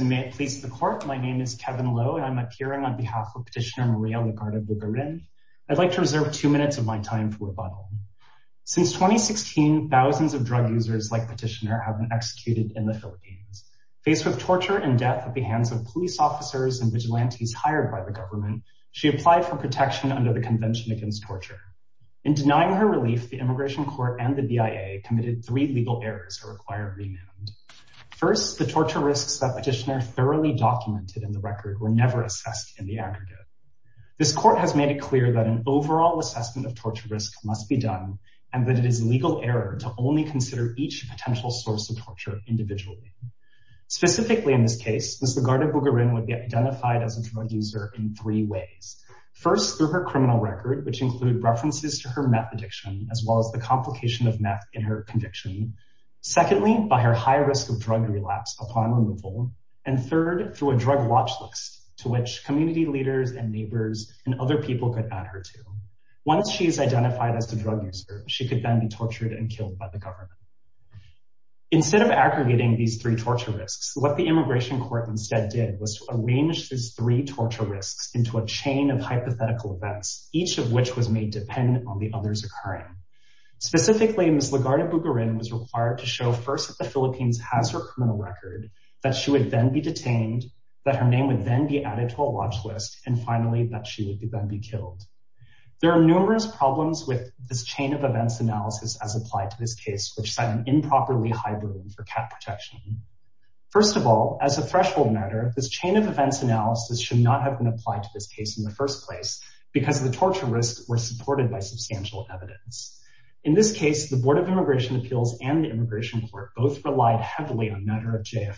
May it please the court, my name is Kevin Lowe and I'm appearing on behalf of Petitioner Maria Legarda-Bugarin. I'd like to reserve two minutes of my time for rebuttal. Since 2016, thousands of drug users like Petitioner have been executed in the Philippines. Faced with torture and death at the hands of police officers and vigilantes hired by the government, she applied for protection under the Convention Against Torture. In denying her relief, the Immigration Court and the BIA committed three legal errors that require remand. First, the torture risks that Petitioner thoroughly documented in the record were never assessed in the aggregate. This court has made it clear that an overall assessment of torture risk must be done and that it is legal error to only consider each potential source of torture individually. Specifically in this case, Ms. Legarda-Bugarin would be identified as a drug user in three ways. First, through her criminal record which include references to her meth addiction as well as the complication of meth in her conviction. Secondly, by her high risk of drug relapse upon removal. And third, through a drug watch list to which community leaders and neighbors and other people could add her to. Once she is identified as a drug user, she could then be tortured and killed by the government. Instead of aggregating these three torture risks, what the Immigration Court instead did was to arrange these three occurring. Specifically, Ms. Legarda-Bugarin was required to show first that the Philippines has her criminal record, that she would then be detained, that her name would then be added to a watch list, and finally that she would then be killed. There are numerous problems with this chain of events analysis as applied to this case which set an improperly high burden for cat protection. First of all, as a threshold matter, this chain of events analysis should not have been applied to this case in the first place because the torture risks were supported by substantial evidence. In this case, the Board of Immigration Appeals and the Immigration Court both relied heavily on matter of JFF.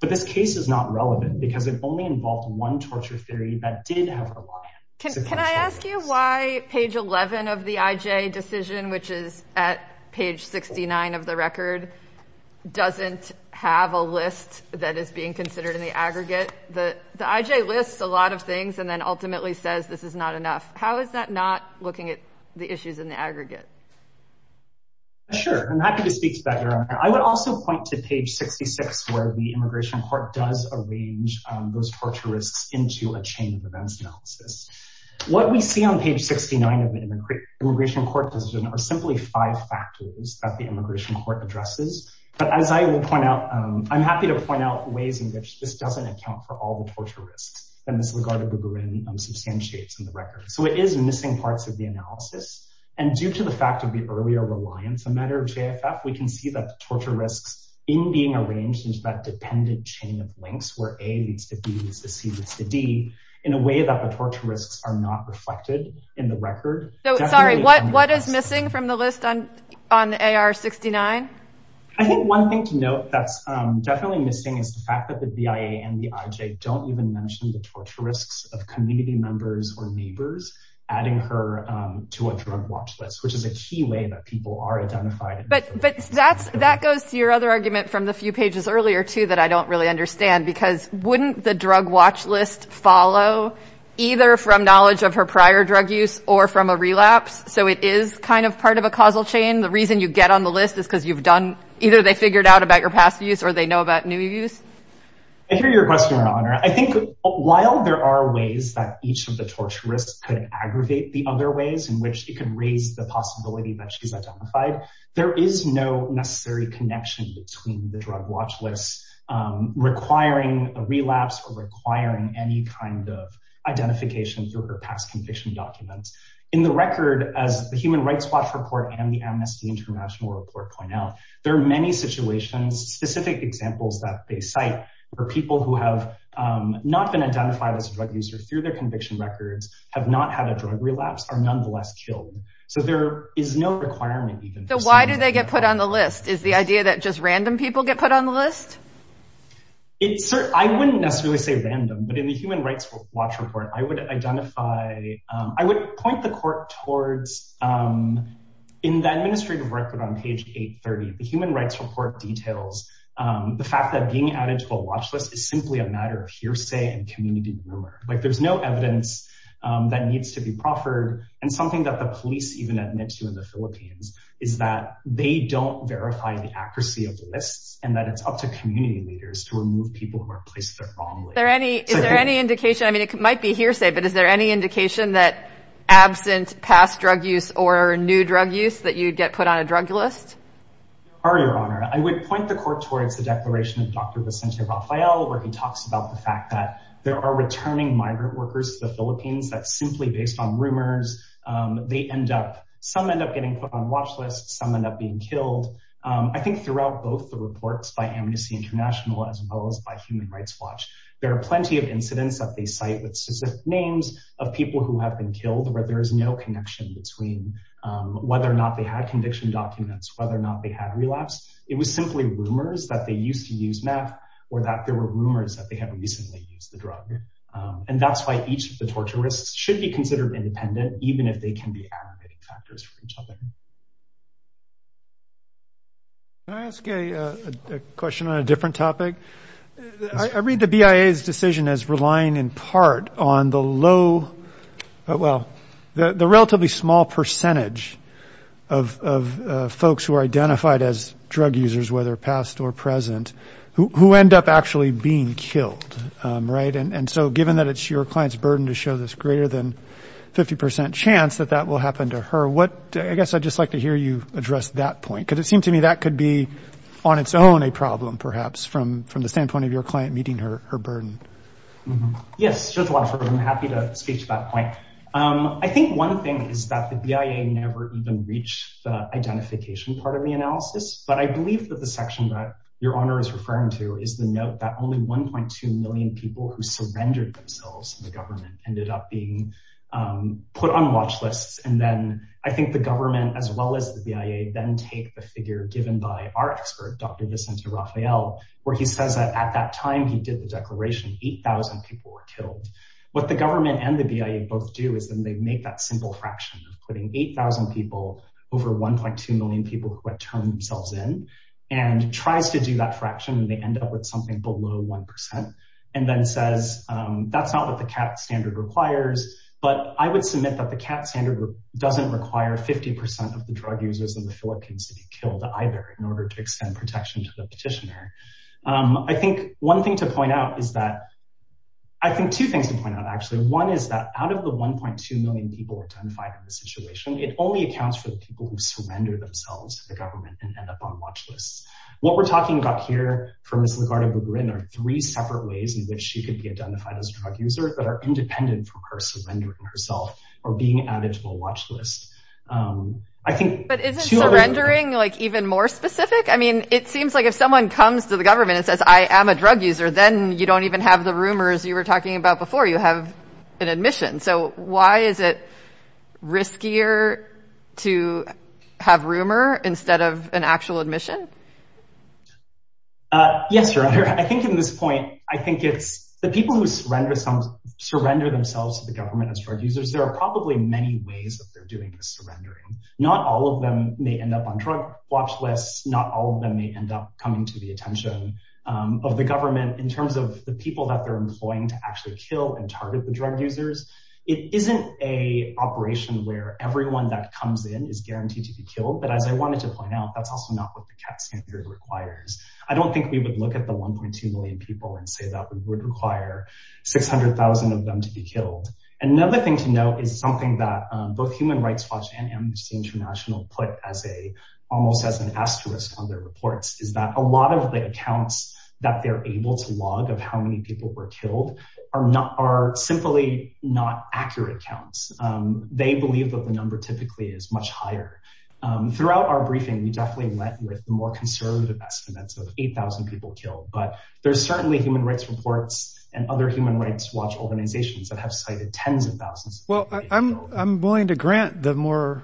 But this case is not relevant because it only involved one torture theory that did have reliance. Can I ask you why page 11 of the IJ decision, which is at page 69 of the record, doesn't have a list that is being considered in the aggregate? The IJ lists a lot of things and then ultimately says this is not enough. How is that not looking at the issues in the aggregate? Sure, I'm happy to speak to that, Your Honor. I would also point to page 66 where the Immigration Court does arrange those torture risks into a chain of events analysis. What we see on page 69 of the Immigration Court decision are simply five factors that the Immigration Court addresses. But as I will point out, I'm happy to point out ways in which this doesn't account for all the torture risks that Ms. Lagarde-Boubourin substantiates in the record. So it is missing parts of the analysis. And due to the fact of the earlier reliance on matter of JFF, we can see that the torture risks in being arranged into that dependent chain of links, where A leads to B, leads to C, leads to D, in a way that the torture risks are not reflected in the record. Sorry, what is missing from the list on AR 69? I think one thing to note that's definitely missing is the fact that the DIA and the IJ don't even mention the torture risks of community members or neighbors, adding her to a drug watch list, which is a key way that people are identified. But that goes to your other argument from the few pages earlier, too, that I don't really understand. Because wouldn't the drug watch list follow either from knowledge of her prior drug use or from a relapse? So it is kind of part of a causal chain. The reason you get on the list is because either they figured out about your past use or they know about new use. I hear your question, Your Honor. I think while there are ways that each of the torture risks could aggravate the other ways in which it can raise the possibility that she's identified, there is no necessary connection between the drug watch lists requiring a relapse or requiring any kind of identification through her past conviction documents. In the record, as the Human Rights Watch Report and the Amnesty International Report point out, there are many situations, specific examples that they cite where people who have not been identified as a drug user through their conviction records, have not had a drug relapse, are nonetheless killed. So there is no requirement. So why do they get put on the list? Is the idea that just random people get put on the list? It's sort of, I wouldn't necessarily say random, but in the Human Rights Watch Report, I would identify, I would point the court towards, in the administrative record on page 830, the Human Rights Report details the fact that being added to a watch list is simply a matter of hearsay and community rumor. Like there's no evidence that needs to be proffered. And something that the police even admit to in the Philippines is that they don't verify the accuracy of the lists and that it's up to community leaders to remove people who are placed there wrongly. Is there any indication, I mean, it might be hearsay, but is there any indication that absent past drug use or new drug use that you'd get put on a drug list? There are, Your Honor. I would point the court towards the declaration of Dr. Vicente Rafael, where he talks about the fact that there are returning migrant workers to the Philippines that simply based on rumors, they end up, some end up getting put on watch lists, some end up being killed. I think throughout both the reports by Amnesty International, as well as by Human Rights, there are plenty of incidents that they cite with specific names of people who have been killed where there is no connection between whether or not they had conviction documents, whether or not they had relapse. It was simply rumors that they used to use meth or that there were rumors that they had recently used the drug. And that's why each of the torture risks should be considered independent, even if they can be aggravating factors for each other. Can I ask a question on a different topic? I read the BIA's decision as relying in part on the low, well, the relatively small percentage of folks who are identified as drug users, whether past or present, who end up actually being killed, right? And so given that it's your client's burden to show this greater than 50% chance that that will happen to her, what, I guess I just like to hear you address that point, because it seemed to me that could be on its own a problem, perhaps, from the standpoint of your client meeting her burden. Yes, I'm happy to speak to that point. I think one thing is that the BIA never even reached the identification part of the analysis. But I believe that the section that Your Honor is referring to is the note that only 1.2 million people who surrendered themselves to the government ended up being put on watch lists. And then I think the government as well as the BIA then take the figure given by our expert, Dr. Vicente Rafael, where he says that at that time, he did the declaration, 8,000 people were killed. What the government and the BIA both do is then they make that simple fraction of putting 8,000 people over 1.2 million people who had turned themselves in, and tries to do that fraction, and they end up with something below 1%. And then says, that's not the CAT standard requires. But I would submit that the CAT standard doesn't require 50% of the drug users in the Philippines to be killed either in order to extend protection to the petitioner. I think one thing to point out is that, I think two things to point out, actually. One is that out of the 1.2 million people identified in the situation, it only accounts for the people who surrender themselves to the government and end up on watch lists. What we're talking about here is three separate ways in which she could be identified as a drug user that are independent from her surrendering herself or being added to a watch list. But isn't surrendering even more specific? I mean, it seems like if someone comes to the government and says, I am a drug user, then you don't even have the rumors you were talking about before. You have an admission. So why is it riskier to have rumor instead of an actual admission? Yes, Your Honor. I think in this point, I think it's the people who surrender themselves to the government as drug users, there are probably many ways that they're doing the surrendering. Not all of them may end up on drug watch lists. Not all of them may end up coming to the attention of the government in terms of the people that they're employing to actually kill and target the drug users. It isn't a operation where everyone that comes in is guaranteed to be killed. But as I look at the 1.2 million people and say that we would require 600,000 of them to be killed. Another thing to note is something that both Human Rights Watch and Amnesty International put as a almost as an asterisk on their reports is that a lot of the accounts that they're able to log of how many people were killed are not are simply not accurate counts. They believe that the number typically is much higher. Throughout our briefing, we definitely went with more conservative estimates of 8,000 people killed. But there's certainly human rights reports and other human rights watch organizations that have cited tens of thousands. Well, I'm willing to grant the more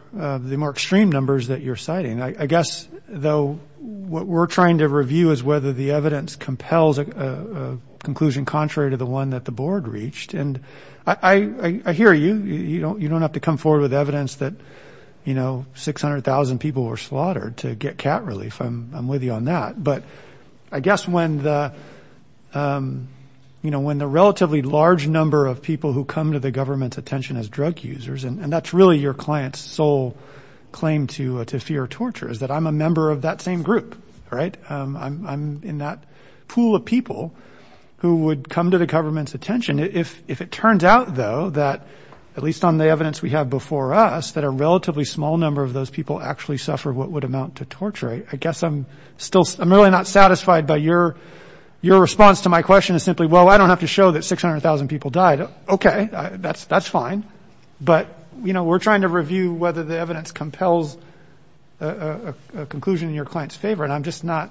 extreme numbers that you're citing. I guess, though, what we're trying to review is whether the evidence compels a conclusion contrary to the one that the board reached. And I hear you. You don't have to come forward with evidence that, you know, 600,000 people were slaughtered to get cat relief. I'm with you on that. But I guess when the you know, when the relatively large number of people who come to the government's attention as drug users, and that's really your client's sole claim to to fear torture, is that I'm a member of that same group. Right. I'm in that pool of people who would come to the government's attention. If it turns out, though, that at least on the evidence we have before us that a relatively small number of those people actually suffer what would amount to torture, I guess I'm still I'm really not satisfied by your your response to my question is simply, well, I don't have to show that 600,000 people died. OK, that's that's fine. But, you know, we're trying to review whether the evidence compels a conclusion in your client's favor. And I'm just not.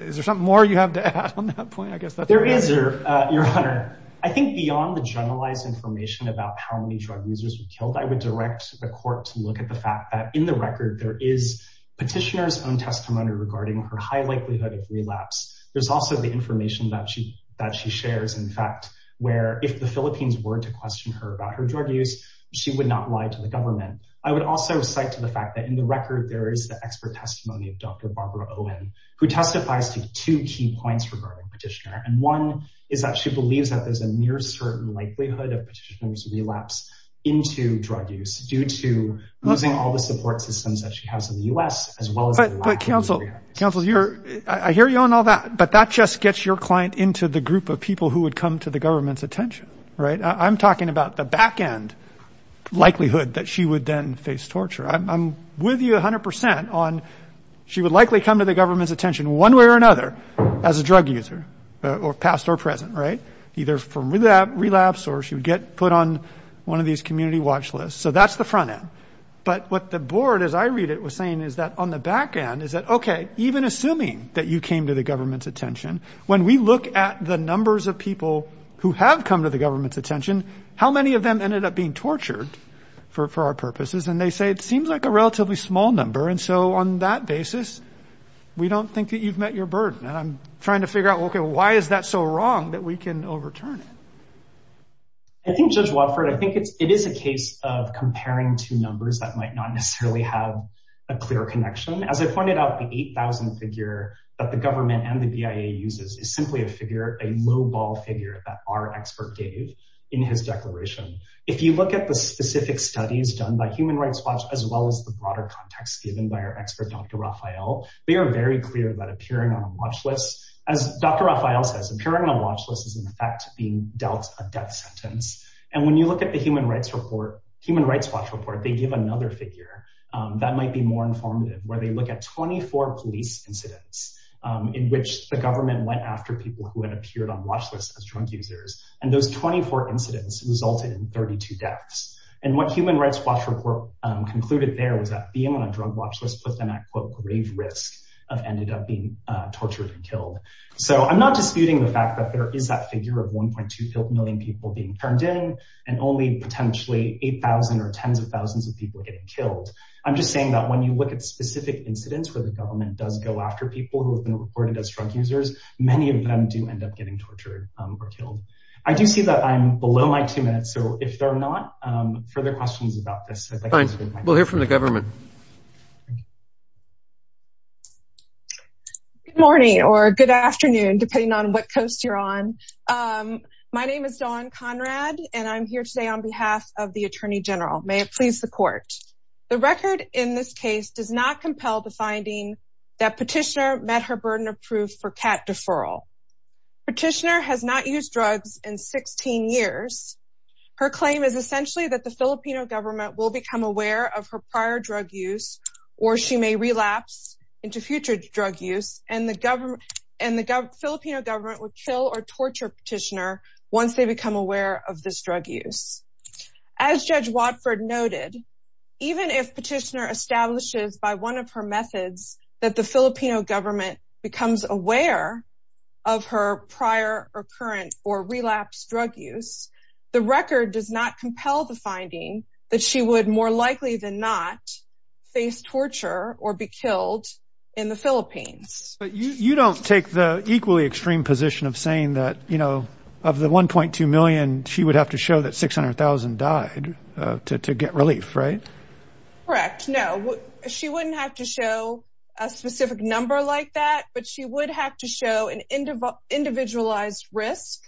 Is there something more you have to add on that point? I guess there is. Your Honor, I think beyond the generalized information about how many drug users were the court to look at the fact that in the record there is petitioner's own testimony regarding her high likelihood of relapse. There's also the information that she that she shares, in fact, where if the Philippines were to question her about her drug use, she would not lie to the government. I would also cite to the fact that in the record there is the expert testimony of Dr. Barbara Owen, who testifies to two key points regarding petitioner. And one is that she had a certain likelihood of petitioner's relapse into drug use due to losing all the support systems that she has in the U.S. as well. But counsel, counsel, you're I hear you on all that. But that just gets your client into the group of people who would come to the government's attention. Right. I'm talking about the back end likelihood that she would then face torture. I'm with you 100 percent on she would likely come to the government's attention one way or another as a drug user or past or present. Right. Either from that relapse or she would get put on one of these community watch lists. So that's the front end. But what the board, as I read it, was saying is that on the back end is that, OK, even assuming that you came to the government's attention, when we look at the numbers of people who have come to the government's attention, how many of them ended up being tortured for our purposes? And they say it seems like a relatively small number. And so on that basis, we don't think that you've met your burden. And I'm trying to figure out, OK, why is that so wrong that we can overturn it? I think Judge Watford, I think it is a case of comparing two numbers that might not necessarily have a clear connection. As I pointed out, the 8000 figure that the government and the BIA uses is simply a figure, a lowball figure that our expert gave in his declaration. If you look at the specific studies done by Human Rights Watch, as well as the broader context given by our expert, Dr. Raphael, we are very clear about appearing on a watch list. As Dr. Raphael says, appearing on a watch list is, in fact, being dealt a death sentence. And when you look at the Human Rights Report, Human Rights Watch Report, they give another figure that might be more informative, where they look at 24 police incidents in which the government went after people who had appeared on watch lists as drug users. And those 24 incidents resulted in 32 deaths. And what Human Rights Watch Report concluded there was that being on a drug watch list put them at, quote, grave risk of ending up being tortured and killed. So I'm not disputing the fact that there is that figure of 1.2 million people being turned in and only potentially 8000 or tens of thousands of people getting killed. I'm just saying that when you look at specific incidents where the government does go after people who have been reported as drug users, many of them do end up getting tortured or killed. I do see that I'm below my two minutes. So if there are not further questions about this, we'll hear from the government. Good morning, or good afternoon, depending on what coast you're on. My name is Dawn Conrad. And I'm here today on behalf of the Attorney General, may it please the court. The record in this case does not compel the finding that petitioner met her burden of proof for cat deferral. Petitioner has not used drugs in 16 years. Her claim is essentially that the Filipino government will become aware of her prior drug use, or she may relapse into future drug use and the government and the Filipino government will kill or torture petitioner once they become aware of this drug use. As Judge Watford noted, even if petitioner establishes by one of her methods that the Filipino government becomes aware of her prior or current or relapse drug use, the record does not compel the finding that she would more likely than not face torture or be killed in the Philippines. But you don't take the equally extreme position of saying that, you know, of the 1.2 million, she would have to show that 600,000 died to get relief, right? Correct? No, she wouldn't have to show a specific number like that. But she would have to show an individual individualized risk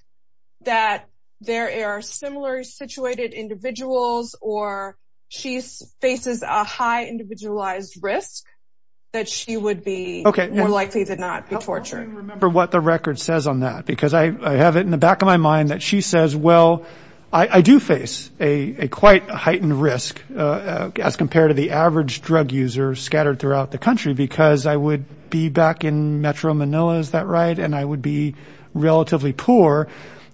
that there are similar situated individuals or she's faces a high individualized risk that she would be okay, likely to not be tortured. Remember what the record says on that, because I have it in the back of my mind that she says, Well, I do face a quite heightened risk as compared to the average drug user scattered throughout the country, because I would be back in Metro Manila is that right, and I would be relatively poor.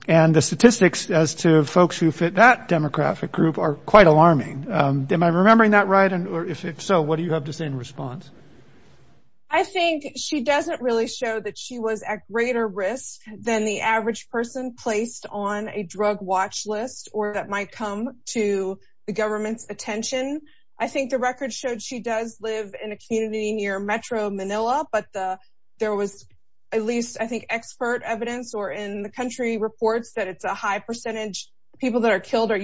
And the statistics as to folks who fit that demographic group are quite alarming. Am I remembering that right? And if so, what do you have to say in response? I think she doesn't really show that she was at greater risk than the average person placed on a drug watch list or that might come to the government's attention. I think the record showed she does live in a community near Metro Manila. But there was at least I think expert evidence or in the country reports that it's a high percentage. People that are killed are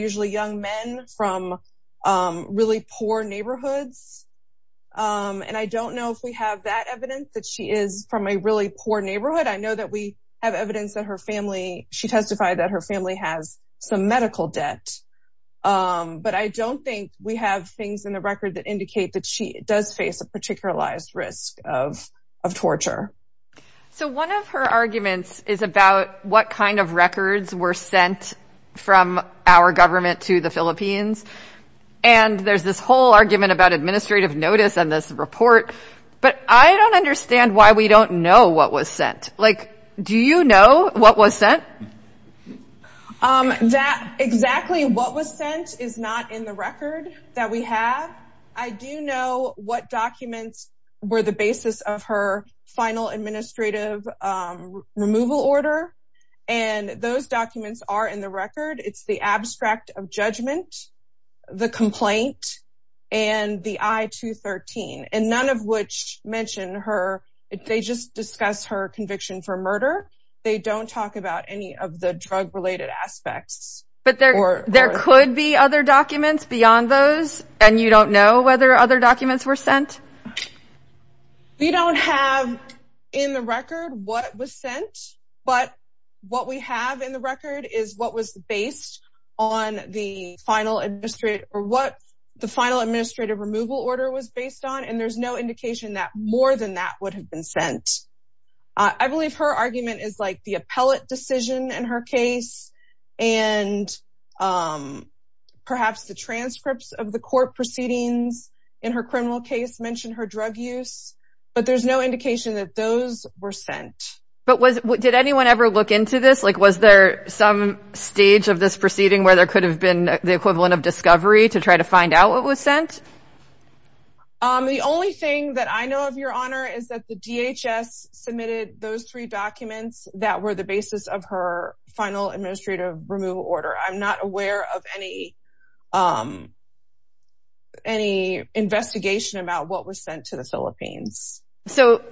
I don't know if we have that evidence that she is from a really poor neighborhood. I know that we have evidence that her family, she testified that her family has some medical debt. But I don't think we have things in the record that indicate that she does face a particularized risk of torture. So one of her arguments is about what kind of records were sent from our government to the Philippines. And there's this whole argument about administrative notice on this report. But I don't understand why we don't know what was sent. Like, do you know what was sent? That exactly what was sent is not in the record that we have. I do know what documents were the basis of her final administrative removal order. And those documents are in the judgment, the complaint, and the I 213. And none of which mentioned her. They just discuss her conviction for murder. They don't talk about any of the drug related aspects. But there could be other documents beyond those. And you don't know whether other documents were sent. We don't have in the record what was sent. But what we have in the record is what was based on the final administrative or what the final administrative removal order was based on. And there's no indication that more than that would have been sent. I believe her argument is like the appellate decision in her case. And perhaps the transcripts of the court proceedings in her criminal case mentioned her drug use. But there's no indication that those were sent. But was did anyone ever look into this? Like, was there some stage of this proceeding where there could have been the equivalent of discovery to try to find out what was sent? The only thing that I know of, Your Honor, is that the DHS submitted those three documents that were the basis of her final administrative removal order. I'm not aware of any investigation about what was sent to the Philippines. So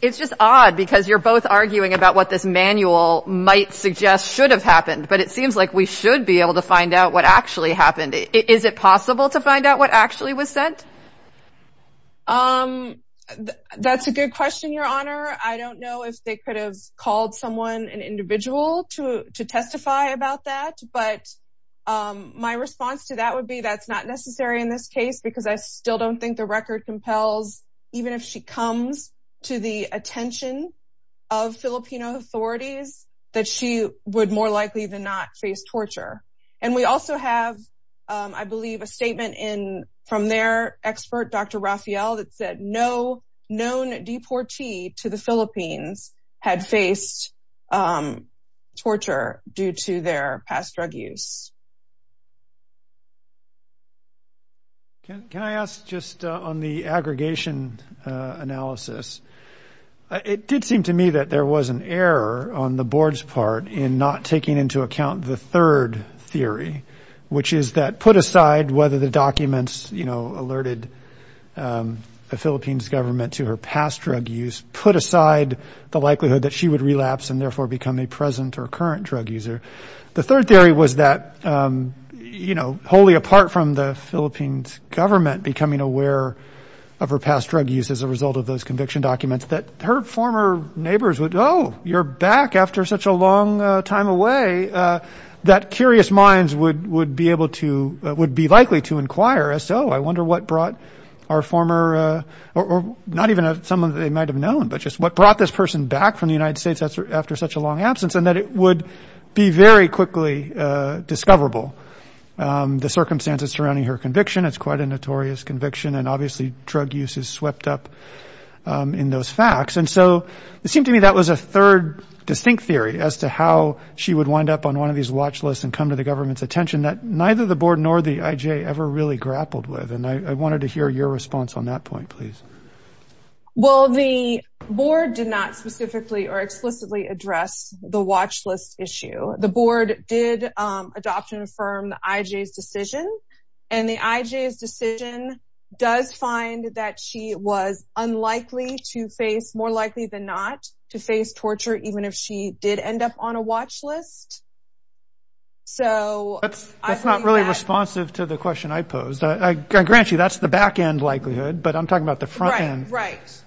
it's just odd because you're both arguing about what this manual might suggest should have happened. But it seems like we should be able to find out what actually happened. Is it possible to find out what actually was sent? That's a good question, Your Honor. I don't know if they could have called someone, an individual, to testify about that. But my response to that would be that's not necessary in this case because I still don't think the record compels, even if she comes to the attention of Filipino authorities, that she would more likely than not face torture. And we also have, I believe, a statement from their expert, Dr. Rafael, that said no known deportee to the Philippines had faced torture due to their past drug use. Can I ask just on the aggregation analysis? It did seem to me that there was an error on the Board's part in not taking into account the third theory, which is that put aside whether the documents, you know, alerted the Philippines government to her past drug use, put aside the likelihood that she would relapse and therefore become a present or current drug user. The third theory was that, you know, wholly apart from the Philippines government becoming aware of her past drug use as a result of those conviction documents, that her former neighbors would, oh, you're back after such a long time away, that curious minds would be able to, would be likely to inquire as, oh, I wonder what brought our former, or not even someone they might have known, but just what brought this person back from the United States after such a long absence, and that it would be very quickly discoverable. The circumstances surrounding her conviction, it's quite a notorious conviction, and obviously drug use is swept up in those facts, and so it seemed to me that was a third distinct theory as to how she would wind up on one of these watch lists and come to the government's attention that neither the Board nor the IJ ever really grappled with, and I wanted to hear your response on that point, please. Well, the Board did not specifically or explicitly address the watch list issue. The Board did adopt and affirm the IJ's decision, and the IJ's decision does find that she was unlikely to face, more likely than not, to face torture even if she did end up on a watch list, so. That's not really responsive to the question I posed. I grant you that's the back end likelihood, but I'm talking about the front end. Right, right.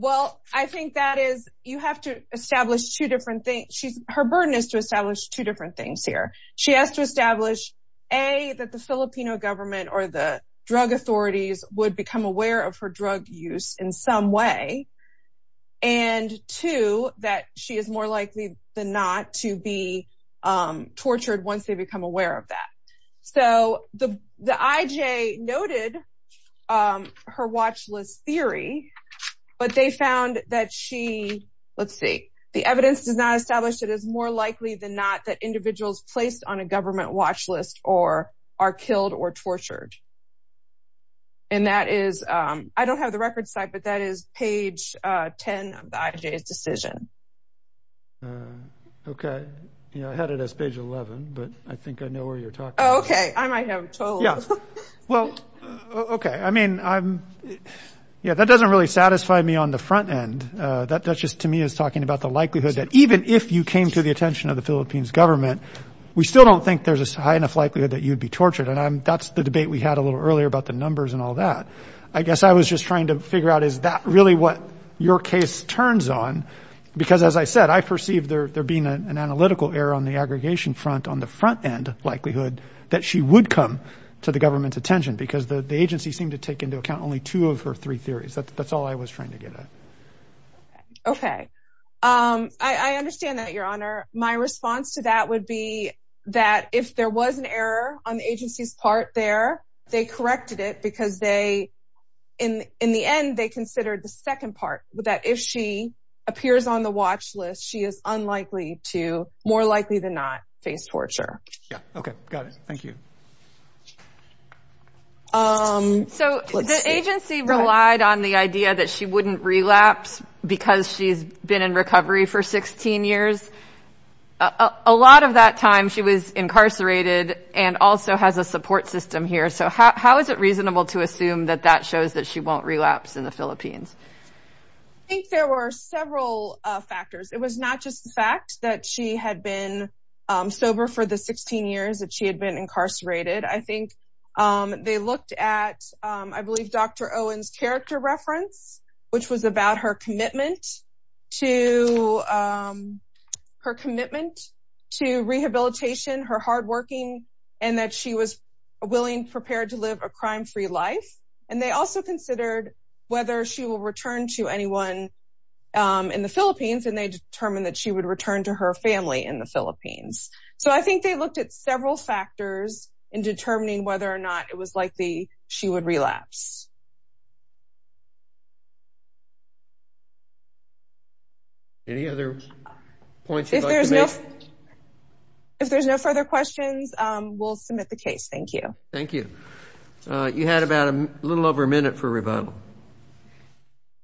Well, I think that is, you have to establish two different things. Her burden is to establish two different things here. She has to establish, A, that the Filipino government or the drug authorities would become aware of her drug use in some way, and two, that she is more likely than not to be tortured once they become aware of that. So the IJ noted her watch list theory, but they found that she, let's see, the evidence does not establish that it's more likely than not that individuals placed on a government watch list are killed or tortured, and that is, I don't have the record site, but that is page 10 of the IJ's decision. Okay, you know, I had it as page 11, but I think I know where you're talking. Okay, I might have okay. I mean, yeah, that doesn't really satisfy me on the front end. That just to me is talking about the likelihood that even if you came to the attention of the Philippines government, we still don't think there's a high enough likelihood that you'd be tortured, and that's the debate we had a little earlier about the numbers and all that. I guess I was just trying to figure out, is that really what your case turns on? Because as I said, I perceive there being an analytical error on the aggregation front on the front end likelihood that she would come to the government's attention, because the agency seemed to take into account only two of her three theories. That's all I was trying to get at. Okay, I understand that, Your Honor. My response to that would be that if there was an error on the agency's part there, they corrected it because they, in the end, they considered the second part, that if she appears on the watch list, she is unlikely to, more likely than not, face torture. Yeah, okay, got it. Thank you. So the agency relied on the idea that she wouldn't relapse because she's been in recovery for 16 years. A lot of that time she was incarcerated and also has a support system here. So how is it reasonable to assume that that shows that she won't relapse in the Philippines? I think there were several factors. It was not just the fact that she had been 16 years, that she had been incarcerated. I think they looked at, I believe, Dr. Owen's character reference, which was about her commitment to rehabilitation, her hard working, and that she was willing, prepared to live a crime-free life. And they also considered whether she will return to anyone in the Philippines, and they determined that she would return to her family in the Philippines. So I think they looked at several factors in determining whether or not it was likely she would relapse. Any other points you'd like to make? If there's no further questions, we'll submit the case. Thank you. Thank you. You had about a little over a minute for rebuttal.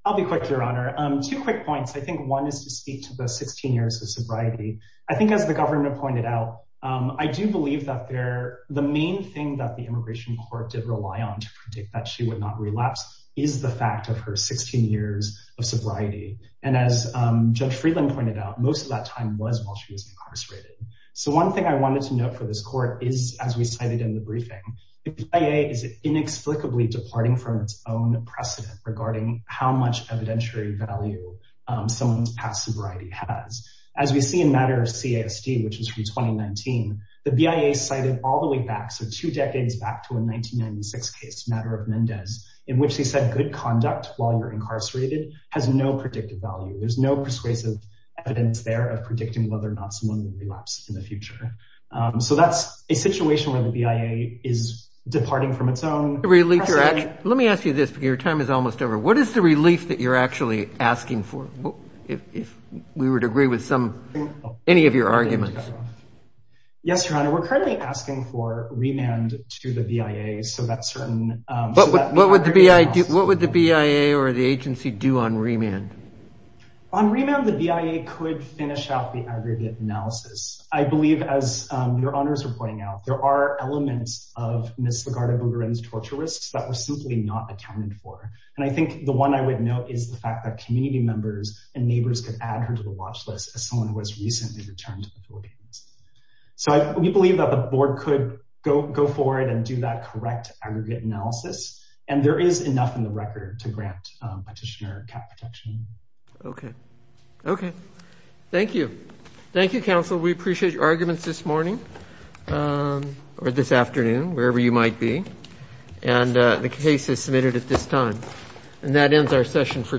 I'll be quick, Your Honor. Two quick points. I think one is to speak to the 16 years of sobriety. I think as the government pointed out, I do believe that the main thing that the immigration court did rely on to predict that she would not relapse is the fact of her 16 years of sobriety. And as Judge Friedland pointed out, most of that time was while she was incarcerated. So one thing I wanted to note for this court is, as we cited in the briefing, the PIA is inexplicably departing from its own precedent regarding how much evidentiary value someone's past sobriety has. As we see in matter of CISD, which is from 2019, the PIA cited all the way back, so two decades back to a 1996 case, matter of Mendez, in which they said good conduct while you're incarcerated has no predictive value. There's no persuasive evidence there of predicting whether or not someone would relapse in the future. So that's a situation where the PIA is departing from its own precedent. Let me ask you this, your time is almost over. What is the relief that you're actually asking for? If we would agree with some, any of your arguments. Yes, your honor, we're currently asking for remand to the PIA. So that's certain. What would the PIA or the agency do on remand? On remand, the PIA could finish out the aggregate analysis. I believe, as your honors are pointing out, there are elements of Ms. Lagarde-Bougueren's torture risks that were simply not accounted for. And I think the one I would note is the fact that community members and neighbors could add her to the watch list as someone who was recently returned to the Philippines. So we believe that the board could go forward and do that correct aggregate analysis. And there is enough in the record to grant petitioner cap protection. Okay. Okay. Thank you. Thank you, counsel. We appreciate your arguments this morning, or this afternoon, wherever you might be. And the case is submitted at this time. And that ends our session for today.